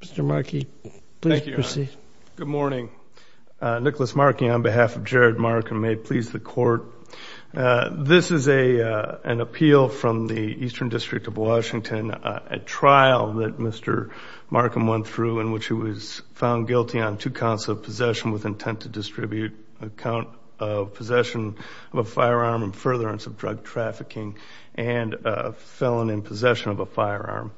Mr. Markey, please proceed. Good morning. Nicholas Markey, on behalf of Jared Marcum, may it please the court. This is an appeal from the Eastern District of Washington, a trial that Mr. Marcum went through in which he was found guilty on two counts of possession with intent to distribute, a count of possession of a firearm and furtherance of drug trafficking, and a felon in possession of a firearm.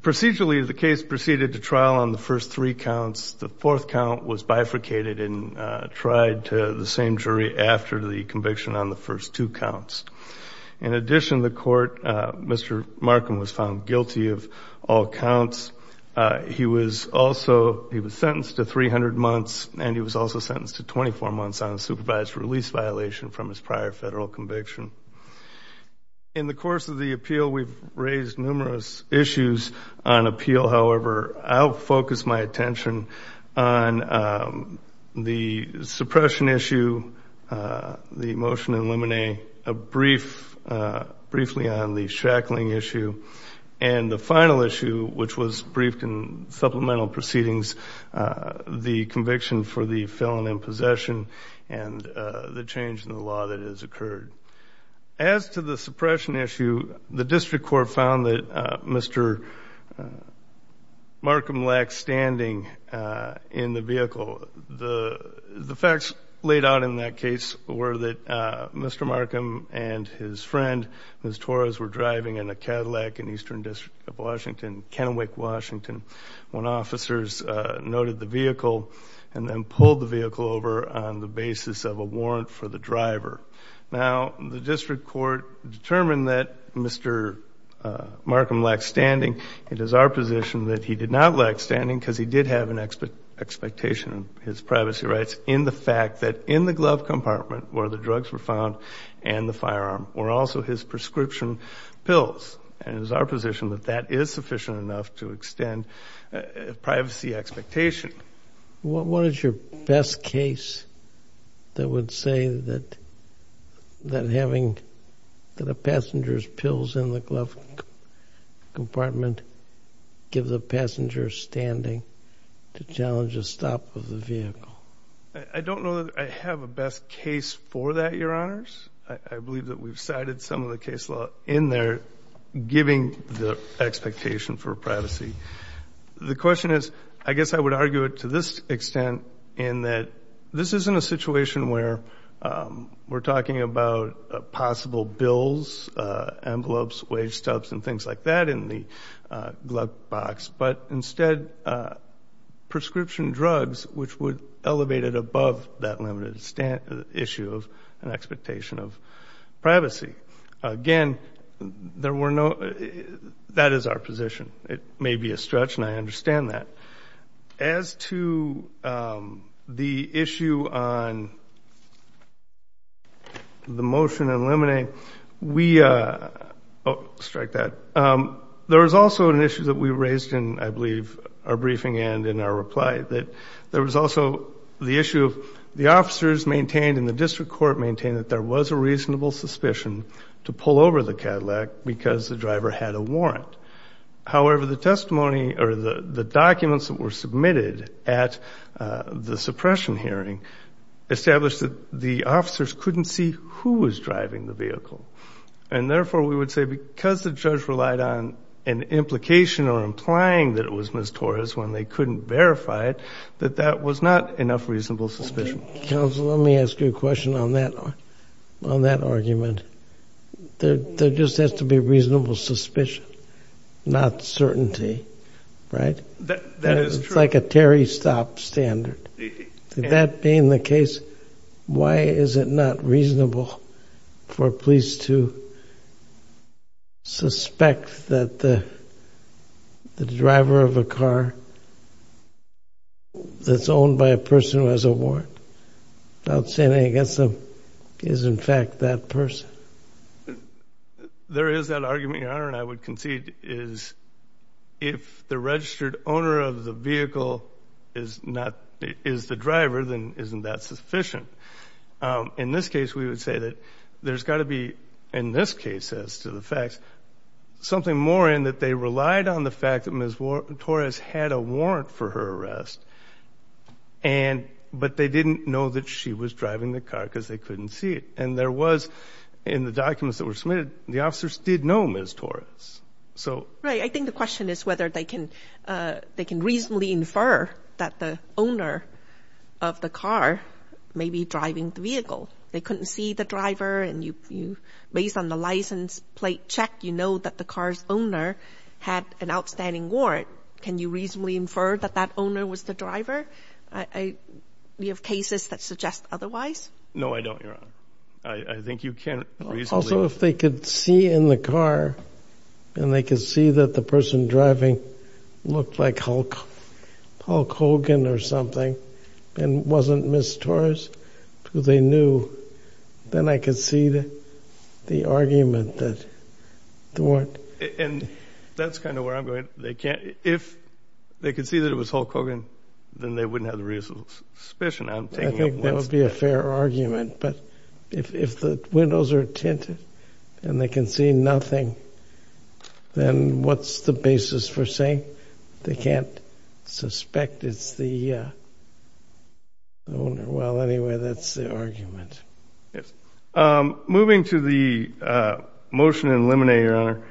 Procedurally, the case proceeded to trial on the first three counts. The fourth count was bifurcated and tried to the same jury after the conviction on the first two counts. In addition, the court, Mr. Marcum was found guilty of all counts. He was also, he was sentenced to 300 months and he was also sentenced to 24 months on a supervised release violation from his prior federal conviction. In the course of the appeal, we've raised numerous issues on appeal. However, I'll focus my attention on the suppression issue, the motion in limine, a brief, briefly on the shackling issue, and the final issue, which was briefed in supplemental proceedings, the conviction for the felon in possession and the change in the law that has occurred. As to the suppression issue, the District Court found that Mr. Marcum lacked standing in the vehicle. The facts laid out in that case were that Mr. Marcum and his friend, Ms. Torres, were driving in a Cadillac in Eastern District of Washington, Kennewick, Washington, when officers noted the vehicle and then pulled the vehicle over on the basis of a warrant for the driver. Now, the District Court determined that Mr. Marcum lacked standing. It is our position that he did not lack standing because he did have an expectation of his privacy rights in the fact that in the glove compartment where the drugs were found and the firearm were also his prescription pills. And it is our position that that is sufficient enough to extend privacy expectation. What is your best case that would say that that having that a passenger's pills in the glove compartment give the passenger standing to challenge a stop of the vehicle? I don't know that I have a best case for that, Your Honors. I believe that we've cited some of the case law in there giving the expectation for privacy. The question is, I guess I would argue it to this extent in that this isn't a situation where we're talking about possible bills, envelopes, wage stubs, and things like that in the glove box, but instead prescription drugs which would elevate it above that limited issue of an expectation of privacy. Again, there were no, that is our position. It may be a stretch and I understand that. As to the issue on the motion eliminating, we, strike that, there was also an issue that we raised in, I believe, our briefing and in our reply, that there was also the issue of the officers maintained in the district court maintained that there was a reasonable suspicion to pull over the Cadillac because the driver had a warrant. However, the testimony or the the documents that were submitted at the suppression hearing established that the officers couldn't see who was driving the vehicle and therefore we would say because the judge relied on an implication or implying that it was Ms. Torres when they couldn't verify it, that that was not enough reasonable suspicion. Counsel, let me ask you a question on that, on that argument. There just has to be reasonable suspicion, not certainty, right? That is like a Terry stop standard. Did that be in the case, why is it not reasonable for police to suspect that the driver of a car that's owned by a person who has a warrant without saying anything against them, is in fact that person? There is that argument, Your Honor, and I would concede is if the registered owner of the vehicle is not, is the driver, then isn't that sufficient? In this case, we would say that there's got to be, in this case as to the facts, something more in that they relied on the fact that Ms. Torres had a warrant for her arrest and, but they didn't know that she was driving the car because they couldn't see it. And there was, in the documents that were submitted, the officers did know Ms. Torres. Right, I think the question is whether they can, they can reasonably infer that the owner of the based on the license plate check, you know that the car's owner had an outstanding warrant. Can you reasonably infer that that owner was the driver? Do you have cases that suggest otherwise? No, I don't, Your Honor. I think you can't reasonably. Also, if they could see in the car and they could see that the person driving looked like Hulk, Hulk Hogan or something and wasn't Ms. Torres, who they knew, then I could see the argument that the warrant. And that's kind of where I'm going. They can't, if they could see that it was Hulk Hogan, then they wouldn't have the reasonable suspicion. I think that would be a fair argument, but if the windows are tinted and they can see nothing, then what's the basis for saying they can't suspect it's the owner? Well, anyway, that's the argument. Yes, moving to the motion and eliminate, Your Honor,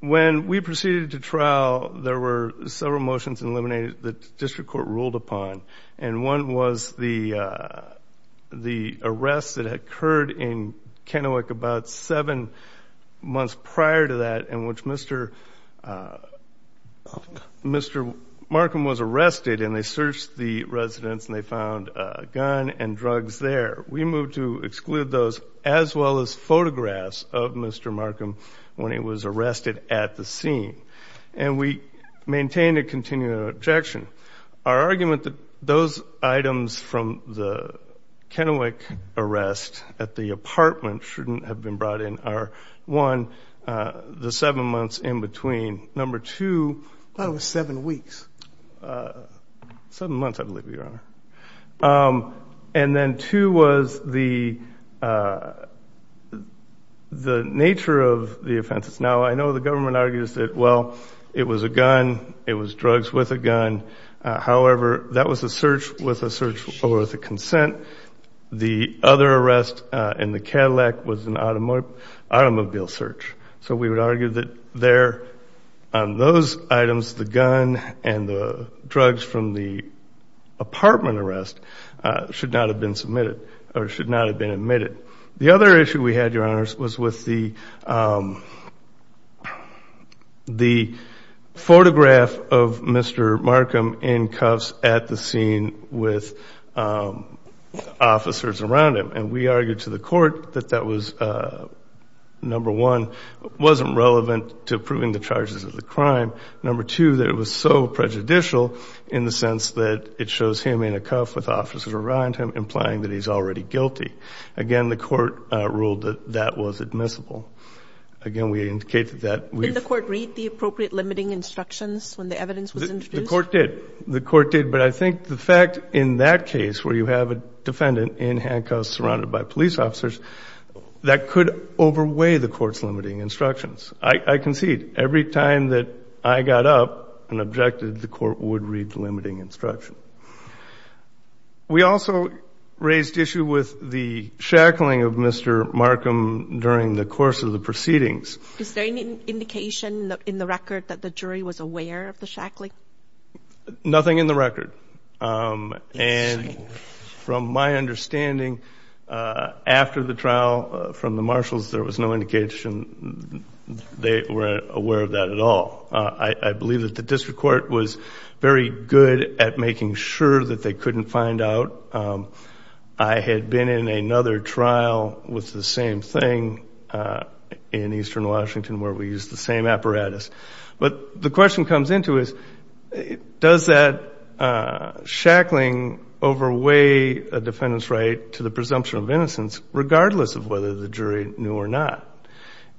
when we proceeded to trial, there were several motions eliminated that district court ruled upon, and one was the the arrest that had occurred in Kennewick about seven months prior to that in which Mr. Markham was arrested, and they searched the residence and they found a gun and drugs there. We moved to exclude those as well as photographs of Mr. Markham when he was arrested at the scene, and we maintained a continued objection. Our argument that those items from the Kennewick arrest at the number two... I thought it was seven weeks. Seven months, I believe, Your Honor. And then two was the the nature of the offenses. Now I know the government argues that, well, it was a gun. It was drugs with a gun. However, that was a search with a search with a consent. The other arrest in the Cadillac was an automobile search, so we would argue that there on those items, the gun and the drugs from the apartment arrest should not have been submitted or should not have been admitted. The other issue we had, Your Honors, was with the the photograph of Mr. Markham in cuffs at the scene with officers around him, and we argued to the that it wasn't relevant to proving the charges of the crime. Number two, that it was so prejudicial in the sense that it shows him in a cuff with officers around him implying that he's already guilty. Again, the court ruled that that was admissible. Again, we indicated that... Did the court read the appropriate limiting instructions when the evidence was introduced? The court did. The court did, but I think the fact in that case where you have a defendant in handcuffs surrounded by police officers, that could overweigh the court's limiting instructions. I concede. Every time that I got up and objected, the court would read the limiting instruction. We also raised issue with the shackling of Mr. Markham during the course of the proceedings. Is there any indication in the record that the jury was aware of the shackling? Nothing in the record, and from my understanding, after the trial from the marshals, there was no indication they were aware of that at all. I believe that the district court was very good at making sure that they couldn't find out. I had been in another trial with the same thing in Eastern Washington where we used the same apparatus. But the question comes into is, does that shackling overweigh a defendant's right to the presumption of innocence regardless of whether the jury knew or not?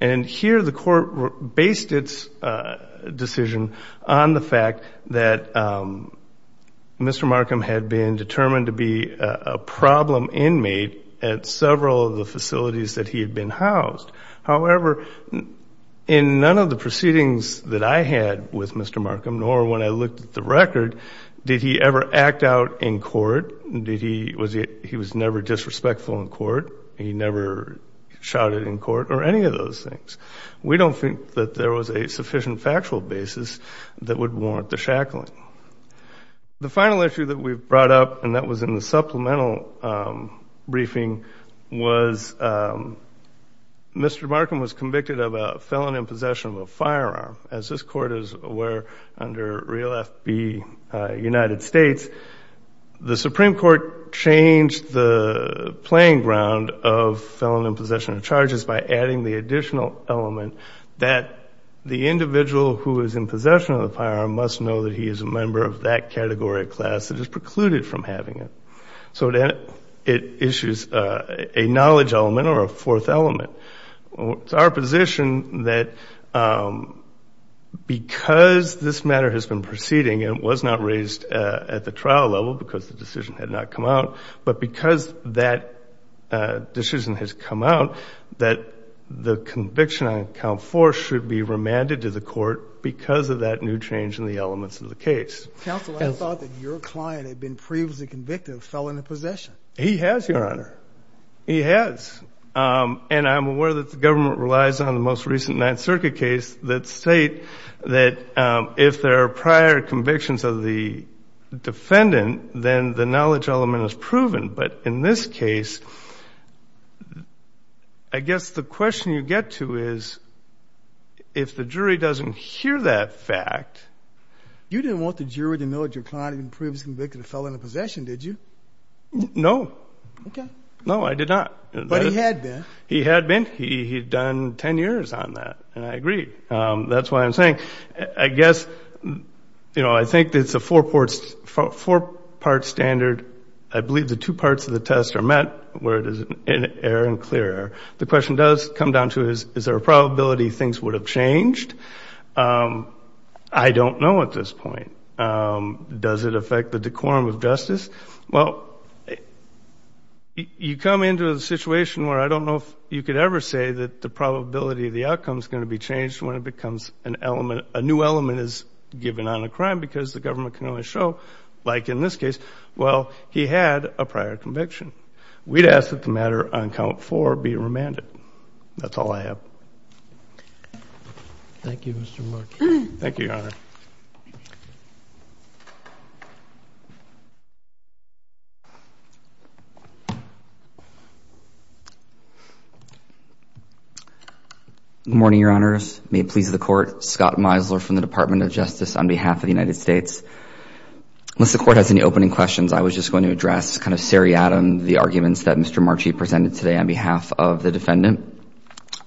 And here the court based its decision on the fact that Mr. Markham had been determined to be a problem inmate at several of the facilities that he had been housed. However, in none of the proceedings that I had with Mr. Markham, nor when I looked at the record, did he ever act out in court? He was never disrespectful in court. He never shouted in court or any of those things. We don't think that there was a sufficient factual basis that would warrant the shackling. The final issue that we've brought up, and that was in the supplemental briefing, was Mr. Markham was convicted of a felon in possession of a firearm. As this court is aware, under Real F.B. United States, the Supreme Court changed the playing ground of felon in possession of charges by adding the additional element that the individual who is in possession of the firearm must know that he is a category of class that is precluded from having it. So then it issues a knowledge element or a fourth element. It's our position that because this matter has been proceeding and was not raised at the trial level because the decision had not come out, but because that decision has come out, that the conviction on count four should be remanded to the court because of that new change in the fact that your client had been previously convicted of felon in possession. He has, Your Honor. He has. And I'm aware that the government relies on the most recent Ninth Circuit case that state that if there are prior convictions of the defendant, then the knowledge element is proven. But in this case, I guess the question you get to is, if the jury doesn't hear that fact... You didn't want the jury to know that your client had been previously convicted of felon in possession, did you? No. Okay. No, I did not. But he had been. He had been. He'd done ten years on that, and I agree. That's why I'm saying, I guess, you know, I think it's a four-part standard. I believe the two parts of the test are met where it is an error and clear error. The question does come down to, is there a I don't know at this point. Does it affect the decorum of justice? Well, you come into a situation where I don't know if you could ever say that the probability of the outcome is going to be changed when it becomes an element, a new element is given on a crime because the government can only show, like in this case, well, he had a prior conviction. We'd ask that the matter on count four be remanded. That's all I have. Thank you, Mr. Marchi. Thank you, Your Honor. Good morning, Your Honors. May it please the Court. Scott Meisler from the Department of Justice on behalf of the United States. Unless the Court has any opening questions, I was just going to address kind of seriatim the arguments that Mr. Markham has raised. I'm going to start off with the defendant.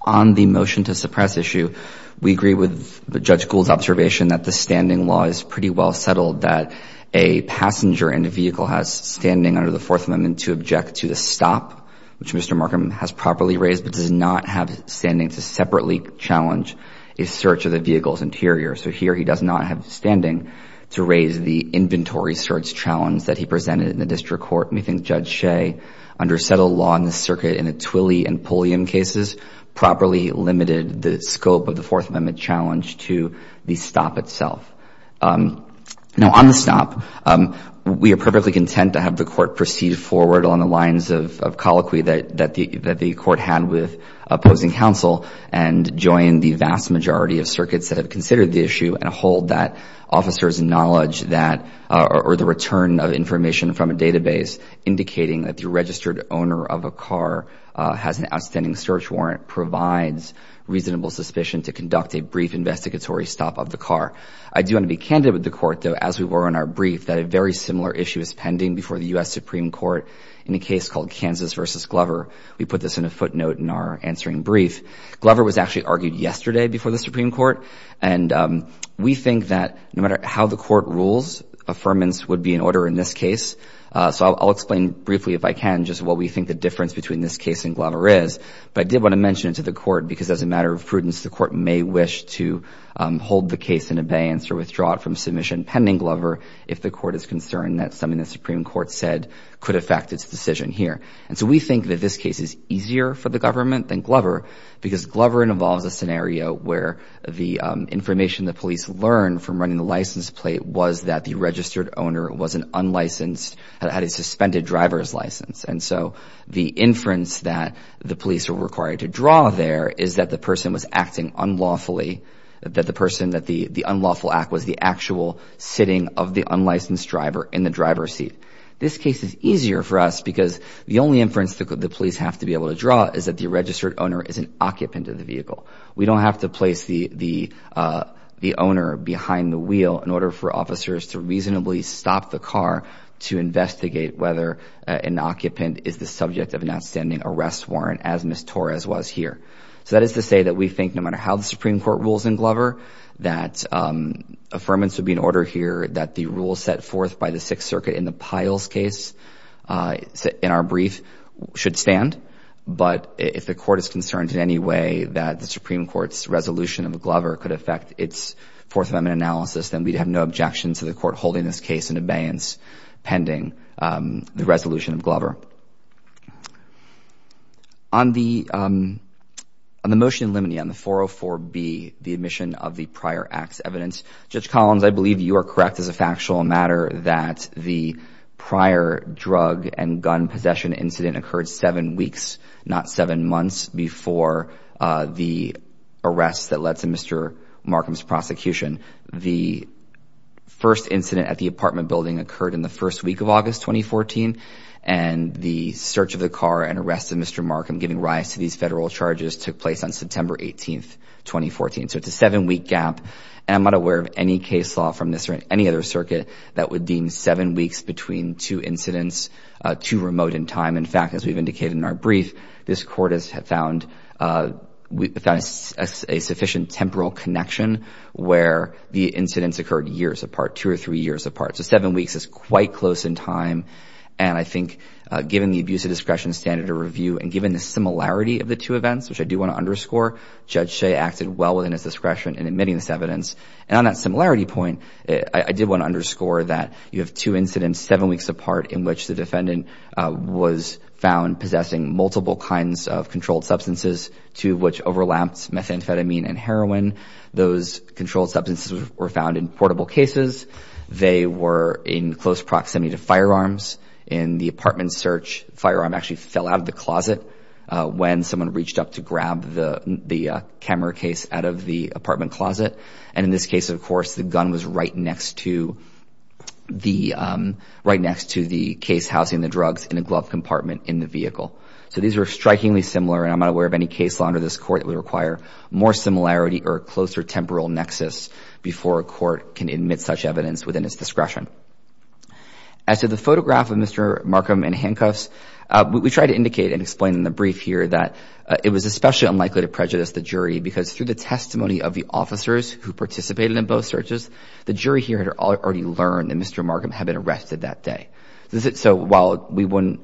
On the motion to suppress issue, we agree with Judge Gould's observation that the standing law is pretty well settled, that a passenger in a vehicle has standing under the Fourth Amendment to object to the stop, which Mr. Markham has properly raised, but does not have standing to separately challenge a search of the vehicle's interior. So here he does not have standing to raise the inventory search challenge that he interior. The evidence that the defendant has provided for the search and polium cases properly limited the scope of the Fourth Amendment challenge to the stop itself. Now on the stop, we are perfectly content to have the Court proceed forward along the lines of colloquy that the Court had with opposing counsel and join the vast majority of circuits that have considered the issue and hold that officers' knowledge or the return of information from a database indicating that the registered owner of a car has an outstanding search warrant provides reasonable suspicion to conduct a brief investigatory stop of the car. I do want to be candid with the Court, though, as we were in our brief, that a very similar issue is pending before the U.S. Supreme Court in a case called Kansas v. Glover. We put this in a footnote in our answering brief. Glover was actually argued yesterday before the Supreme Court. And we think that no matter how the Court rules, affirmance would be in order in this case. So I'll explain briefly, if I can, just what we think the difference between this case and Glover is. But I did want to mention it to the Court because as a matter of prudence, the Court may wish to hold the case in abeyance or withdraw it from submission pending Glover if the Court is concerned that something the Supreme Court said could affect its decision here. And so we think that this case is Glover because Glover involves a scenario where the information the police learned from running the license plate was that the registered owner was an unlicensed, had a suspended driver's license. And so the inference that the police were required to draw there is that the person was acting unlawfully, that the person, that the unlawful act was the actual sitting of the unlicensed driver in the driver's seat. This case is easier for us because the only inference that the police have to be able to draw is that the registered owner is an occupant of the vehicle. We don't have to place the owner behind the wheel in order for officers to reasonably stop the car to investigate whether an occupant is the subject of an outstanding arrest warrant as Ms. Torres was here. So that is to say that we think no matter how the Supreme Court rules in Glover, that affirmance would be in order here, that the rules set by the Sixth Circuit in the Piles case in our brief should stand. But if the court is concerned in any way that the Supreme Court's resolution of Glover could affect its Fourth Amendment analysis, then we'd have no objection to the court holding this case in abeyance pending the resolution of Glover. On the motion in limine on the 404B, the admission of the prior act's evidence, Judge Collins, I believe you are correct as a factual matter that the prior drug and gun possession incident occurred seven weeks, not seven months, before the arrest that led to Mr. Markham's prosecution. The first incident at the apartment building occurred in the first week of August 2014, and the search of the car and arrest of Mr. Markham giving rise to these federal charges took place on any case law from this or any other circuit that would deem seven weeks between two incidents too remote in time. In fact, as we've indicated in our brief, this court has found a sufficient temporal connection where the incidents occurred years apart, two or three years apart. So seven weeks is quite close in time. And I think given the abuse of discretion standard of review and given the similarity of the two events, which I do want to underscore, Judge Shea acted well within his discretion in admitting this evidence. And on that similarity point, I did want to underscore that you have two incidents seven weeks apart in which the defendant was found possessing multiple kinds of controlled substances, two of which overlapped methamphetamine and heroin. Those controlled substances were found in portable cases. They were in close proximity to firearms. In the apartment search, the firearm actually fell out of the closet when someone reached up to grab the camera case out of the apartment closet. And in this case, of course, the gun was right next to the case housing the drugs in a glove compartment in the vehicle. So these are strikingly similar, and I'm not aware of any case law under this court that would require more similarity or a closer temporal nexus before a court can admit such evidence within its discretion. As to the photograph of Mr. Markham in handcuffs, we tried to indicate and explain in the brief here that it was especially unlikely to prejudice the jury because through the testimony of the officers who participated in both searches, the jury here had already learned that Mr. Markham had been arrested that day. So while we wouldn't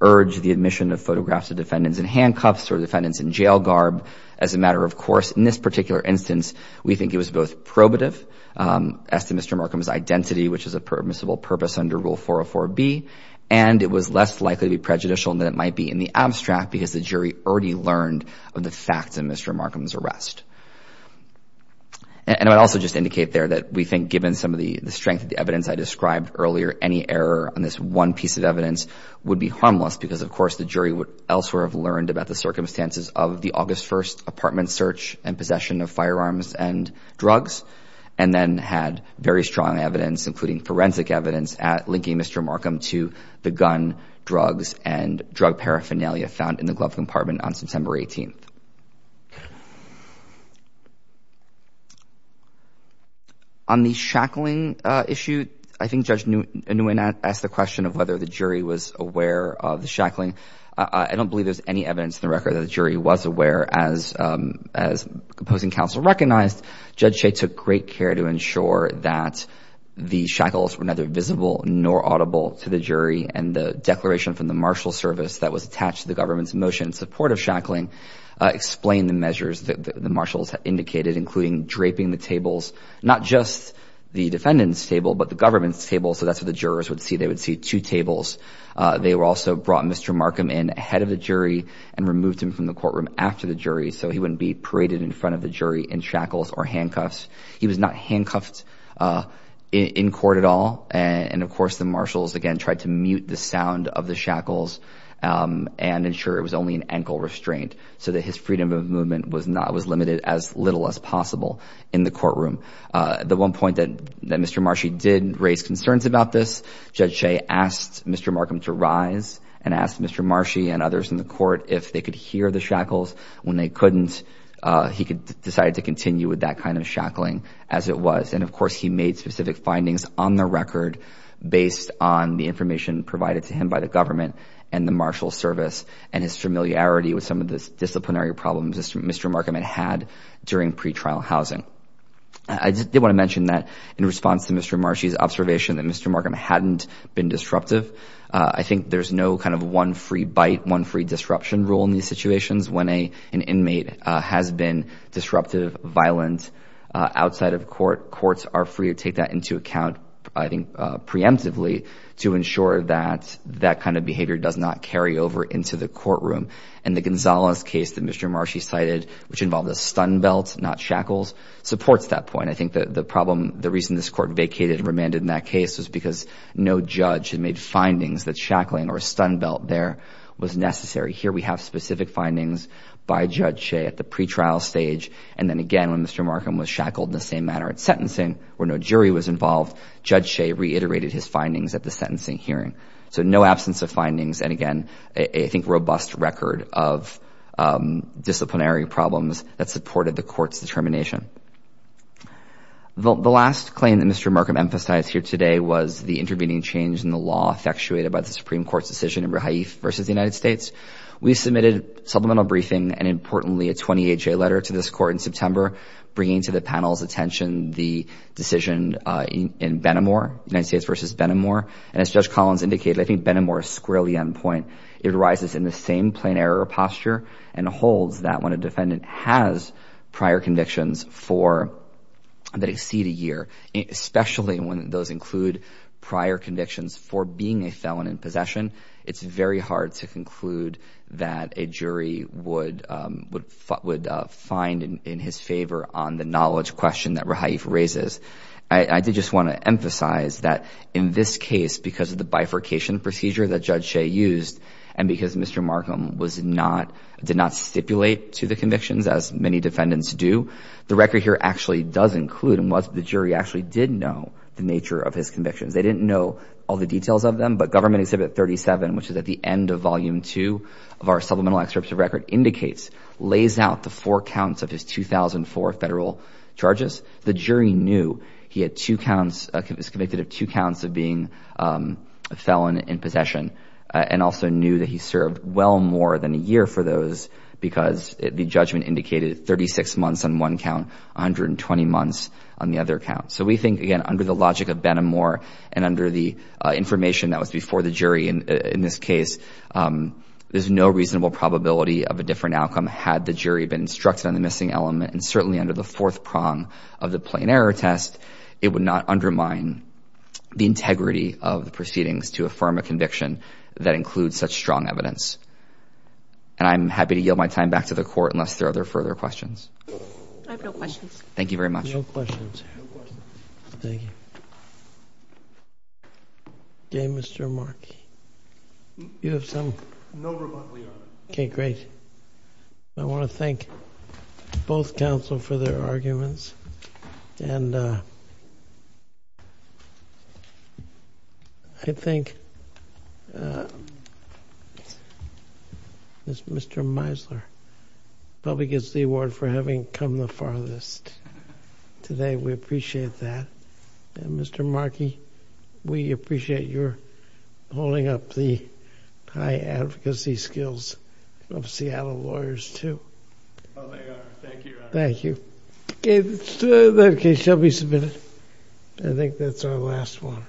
urge the admission of photographs of defendants in handcuffs or defendants in jail garb as a matter of course, in this particular instance, we think it was both probative as to Mr. Markham's identity, which is a matter of permissible purpose under Rule 404B, and it was less likely to be prejudicial than it might be in the abstract because the jury already learned of the facts in Mr. Markham's arrest. And I would also just indicate there that we think given some of the strength of the evidence I described earlier, any error on this one piece of evidence would be harmless because, of course, the jury would elsewhere have learned about the circumstances of the August 1st apartment search and possession of firearms and drugs, and then had very strong evidence, including forensic evidence, at linking Mr. Markham to the gun, drugs, and drug paraphernalia found in the glove compartment on September 18th. On the shackling issue, I think Judge Nguyen asked the question of whether the jury was aware of the shackling. I don't believe there's any evidence in the record that the jury was aware as opposing counsel recognized. Judge Shea took great care to ensure that the shackles were neither visible nor audible to the jury, and the declaration from the marshal service that was attached to the government's motion in support of shackling explained the measures that the marshals indicated, including draping the tables, not just the defendant's table, but the government's table, so that's what the jurors would see. They would see two tables. They also brought Mr. Markham in and removed him from the courtroom after the jury so he wouldn't be paraded in front of the jury in shackles or handcuffs. He was not handcuffed in court at all, and of course the marshals again tried to mute the sound of the shackles and ensure it was only an ankle restraint so that his freedom of movement was not was limited as little as possible in the courtroom. The one point that Mr. Marshie did raise concerns about this, Judge Shea asked Mr. Markham to rise and asked Mr. Marshie and others in the court if they could hear the shackles. When they couldn't, he could decide to continue with that kind of shackling as it was, and of course he made specific findings on the record based on the information provided to him by the government and the marshal service and his familiarity with some of the disciplinary problems Mr. Markham had had during pre-trial housing. I did want to mention that in response to Mr. Marshie's observation that Mr. Markham hadn't been disruptive. I think there's no kind of one free bite, one free disruption rule in these situations when an inmate has been disruptive, violent outside of court. Courts are free to take that into account, I think preemptively, to ensure that that kind of behavior does not carry over into the courtroom. And the Gonzalez case that Mr. Marshie cited, which involved a stun belt not shackles, supports that point. I think that the problem, the reason this court vacated and remanded in that case was because no judge had made findings that shackling or a stun belt there was necessary. Here we have specific findings by Judge Shea at the pre-trial stage, and then again when Mr. Markham was shackled in the same manner at sentencing, where no jury was involved, Judge Shea reiterated his findings at the sentencing hearing. So no absence of findings, and again, I think robust record of disciplinary problems that supported the court's determination. The last claim that Mr. Markham emphasized here today was the intervening change in the law effectuated by the Supreme Court's decision in Rehaif versus the United States. We submitted supplemental briefing, and importantly, a 28-J letter to this court in September, bringing to the panel's attention the decision in Benamor, United States versus Benamor. And as Judge Collins indicated, I think Benamor is squarely on point. It arises in the same plain and holds that when a defendant has prior convictions that exceed a year, especially when those include prior convictions for being a felon in possession, it's very hard to conclude that a jury would find in his favor on the knowledge question that Rehaif raises. I did just want to emphasize that in this case, because of the bifurcation procedure that Judge did not stipulate to the convictions, as many defendants do, the record here actually does include and the jury actually did know the nature of his convictions. They didn't know all the details of them, but Government Exhibit 37, which is at the end of volume two of our supplemental excerpts of record, indicates, lays out the four counts of his 2004 federal charges. The jury knew he was convicted of two counts of being a felon in possession, and also knew that he served well more than a year for those because the judgment indicated 36 months on one count, 120 months on the other count. So we think, again, under the logic of Benamor and under the information that was before the jury in this case, there's no reasonable probability of a different outcome had the jury been instructed on the missing element. And certainly under the fourth prong of the plain error test, it would not undermine the integrity of the proceedings to affirm a conviction that includes such strong evidence. And I'm happy to yield my time back to the court unless there are other further questions. I have no questions. Thank you very much. No questions. Thank you. Okay, Mr. Mark. You have some? No rebuttal, Your Honor. Okay, great. I want to thank both counsel for their arguments. And I think Mr. Meisler probably gets the award for having come the farthest today. We appreciate that. And Mr. Markey, we appreciate your holding up the high advocacy skills of Seattle lawyers too. Oh, they are. Thank you, Your Honor. Thank you. Okay, that case shall be submitted. I think that's our last one.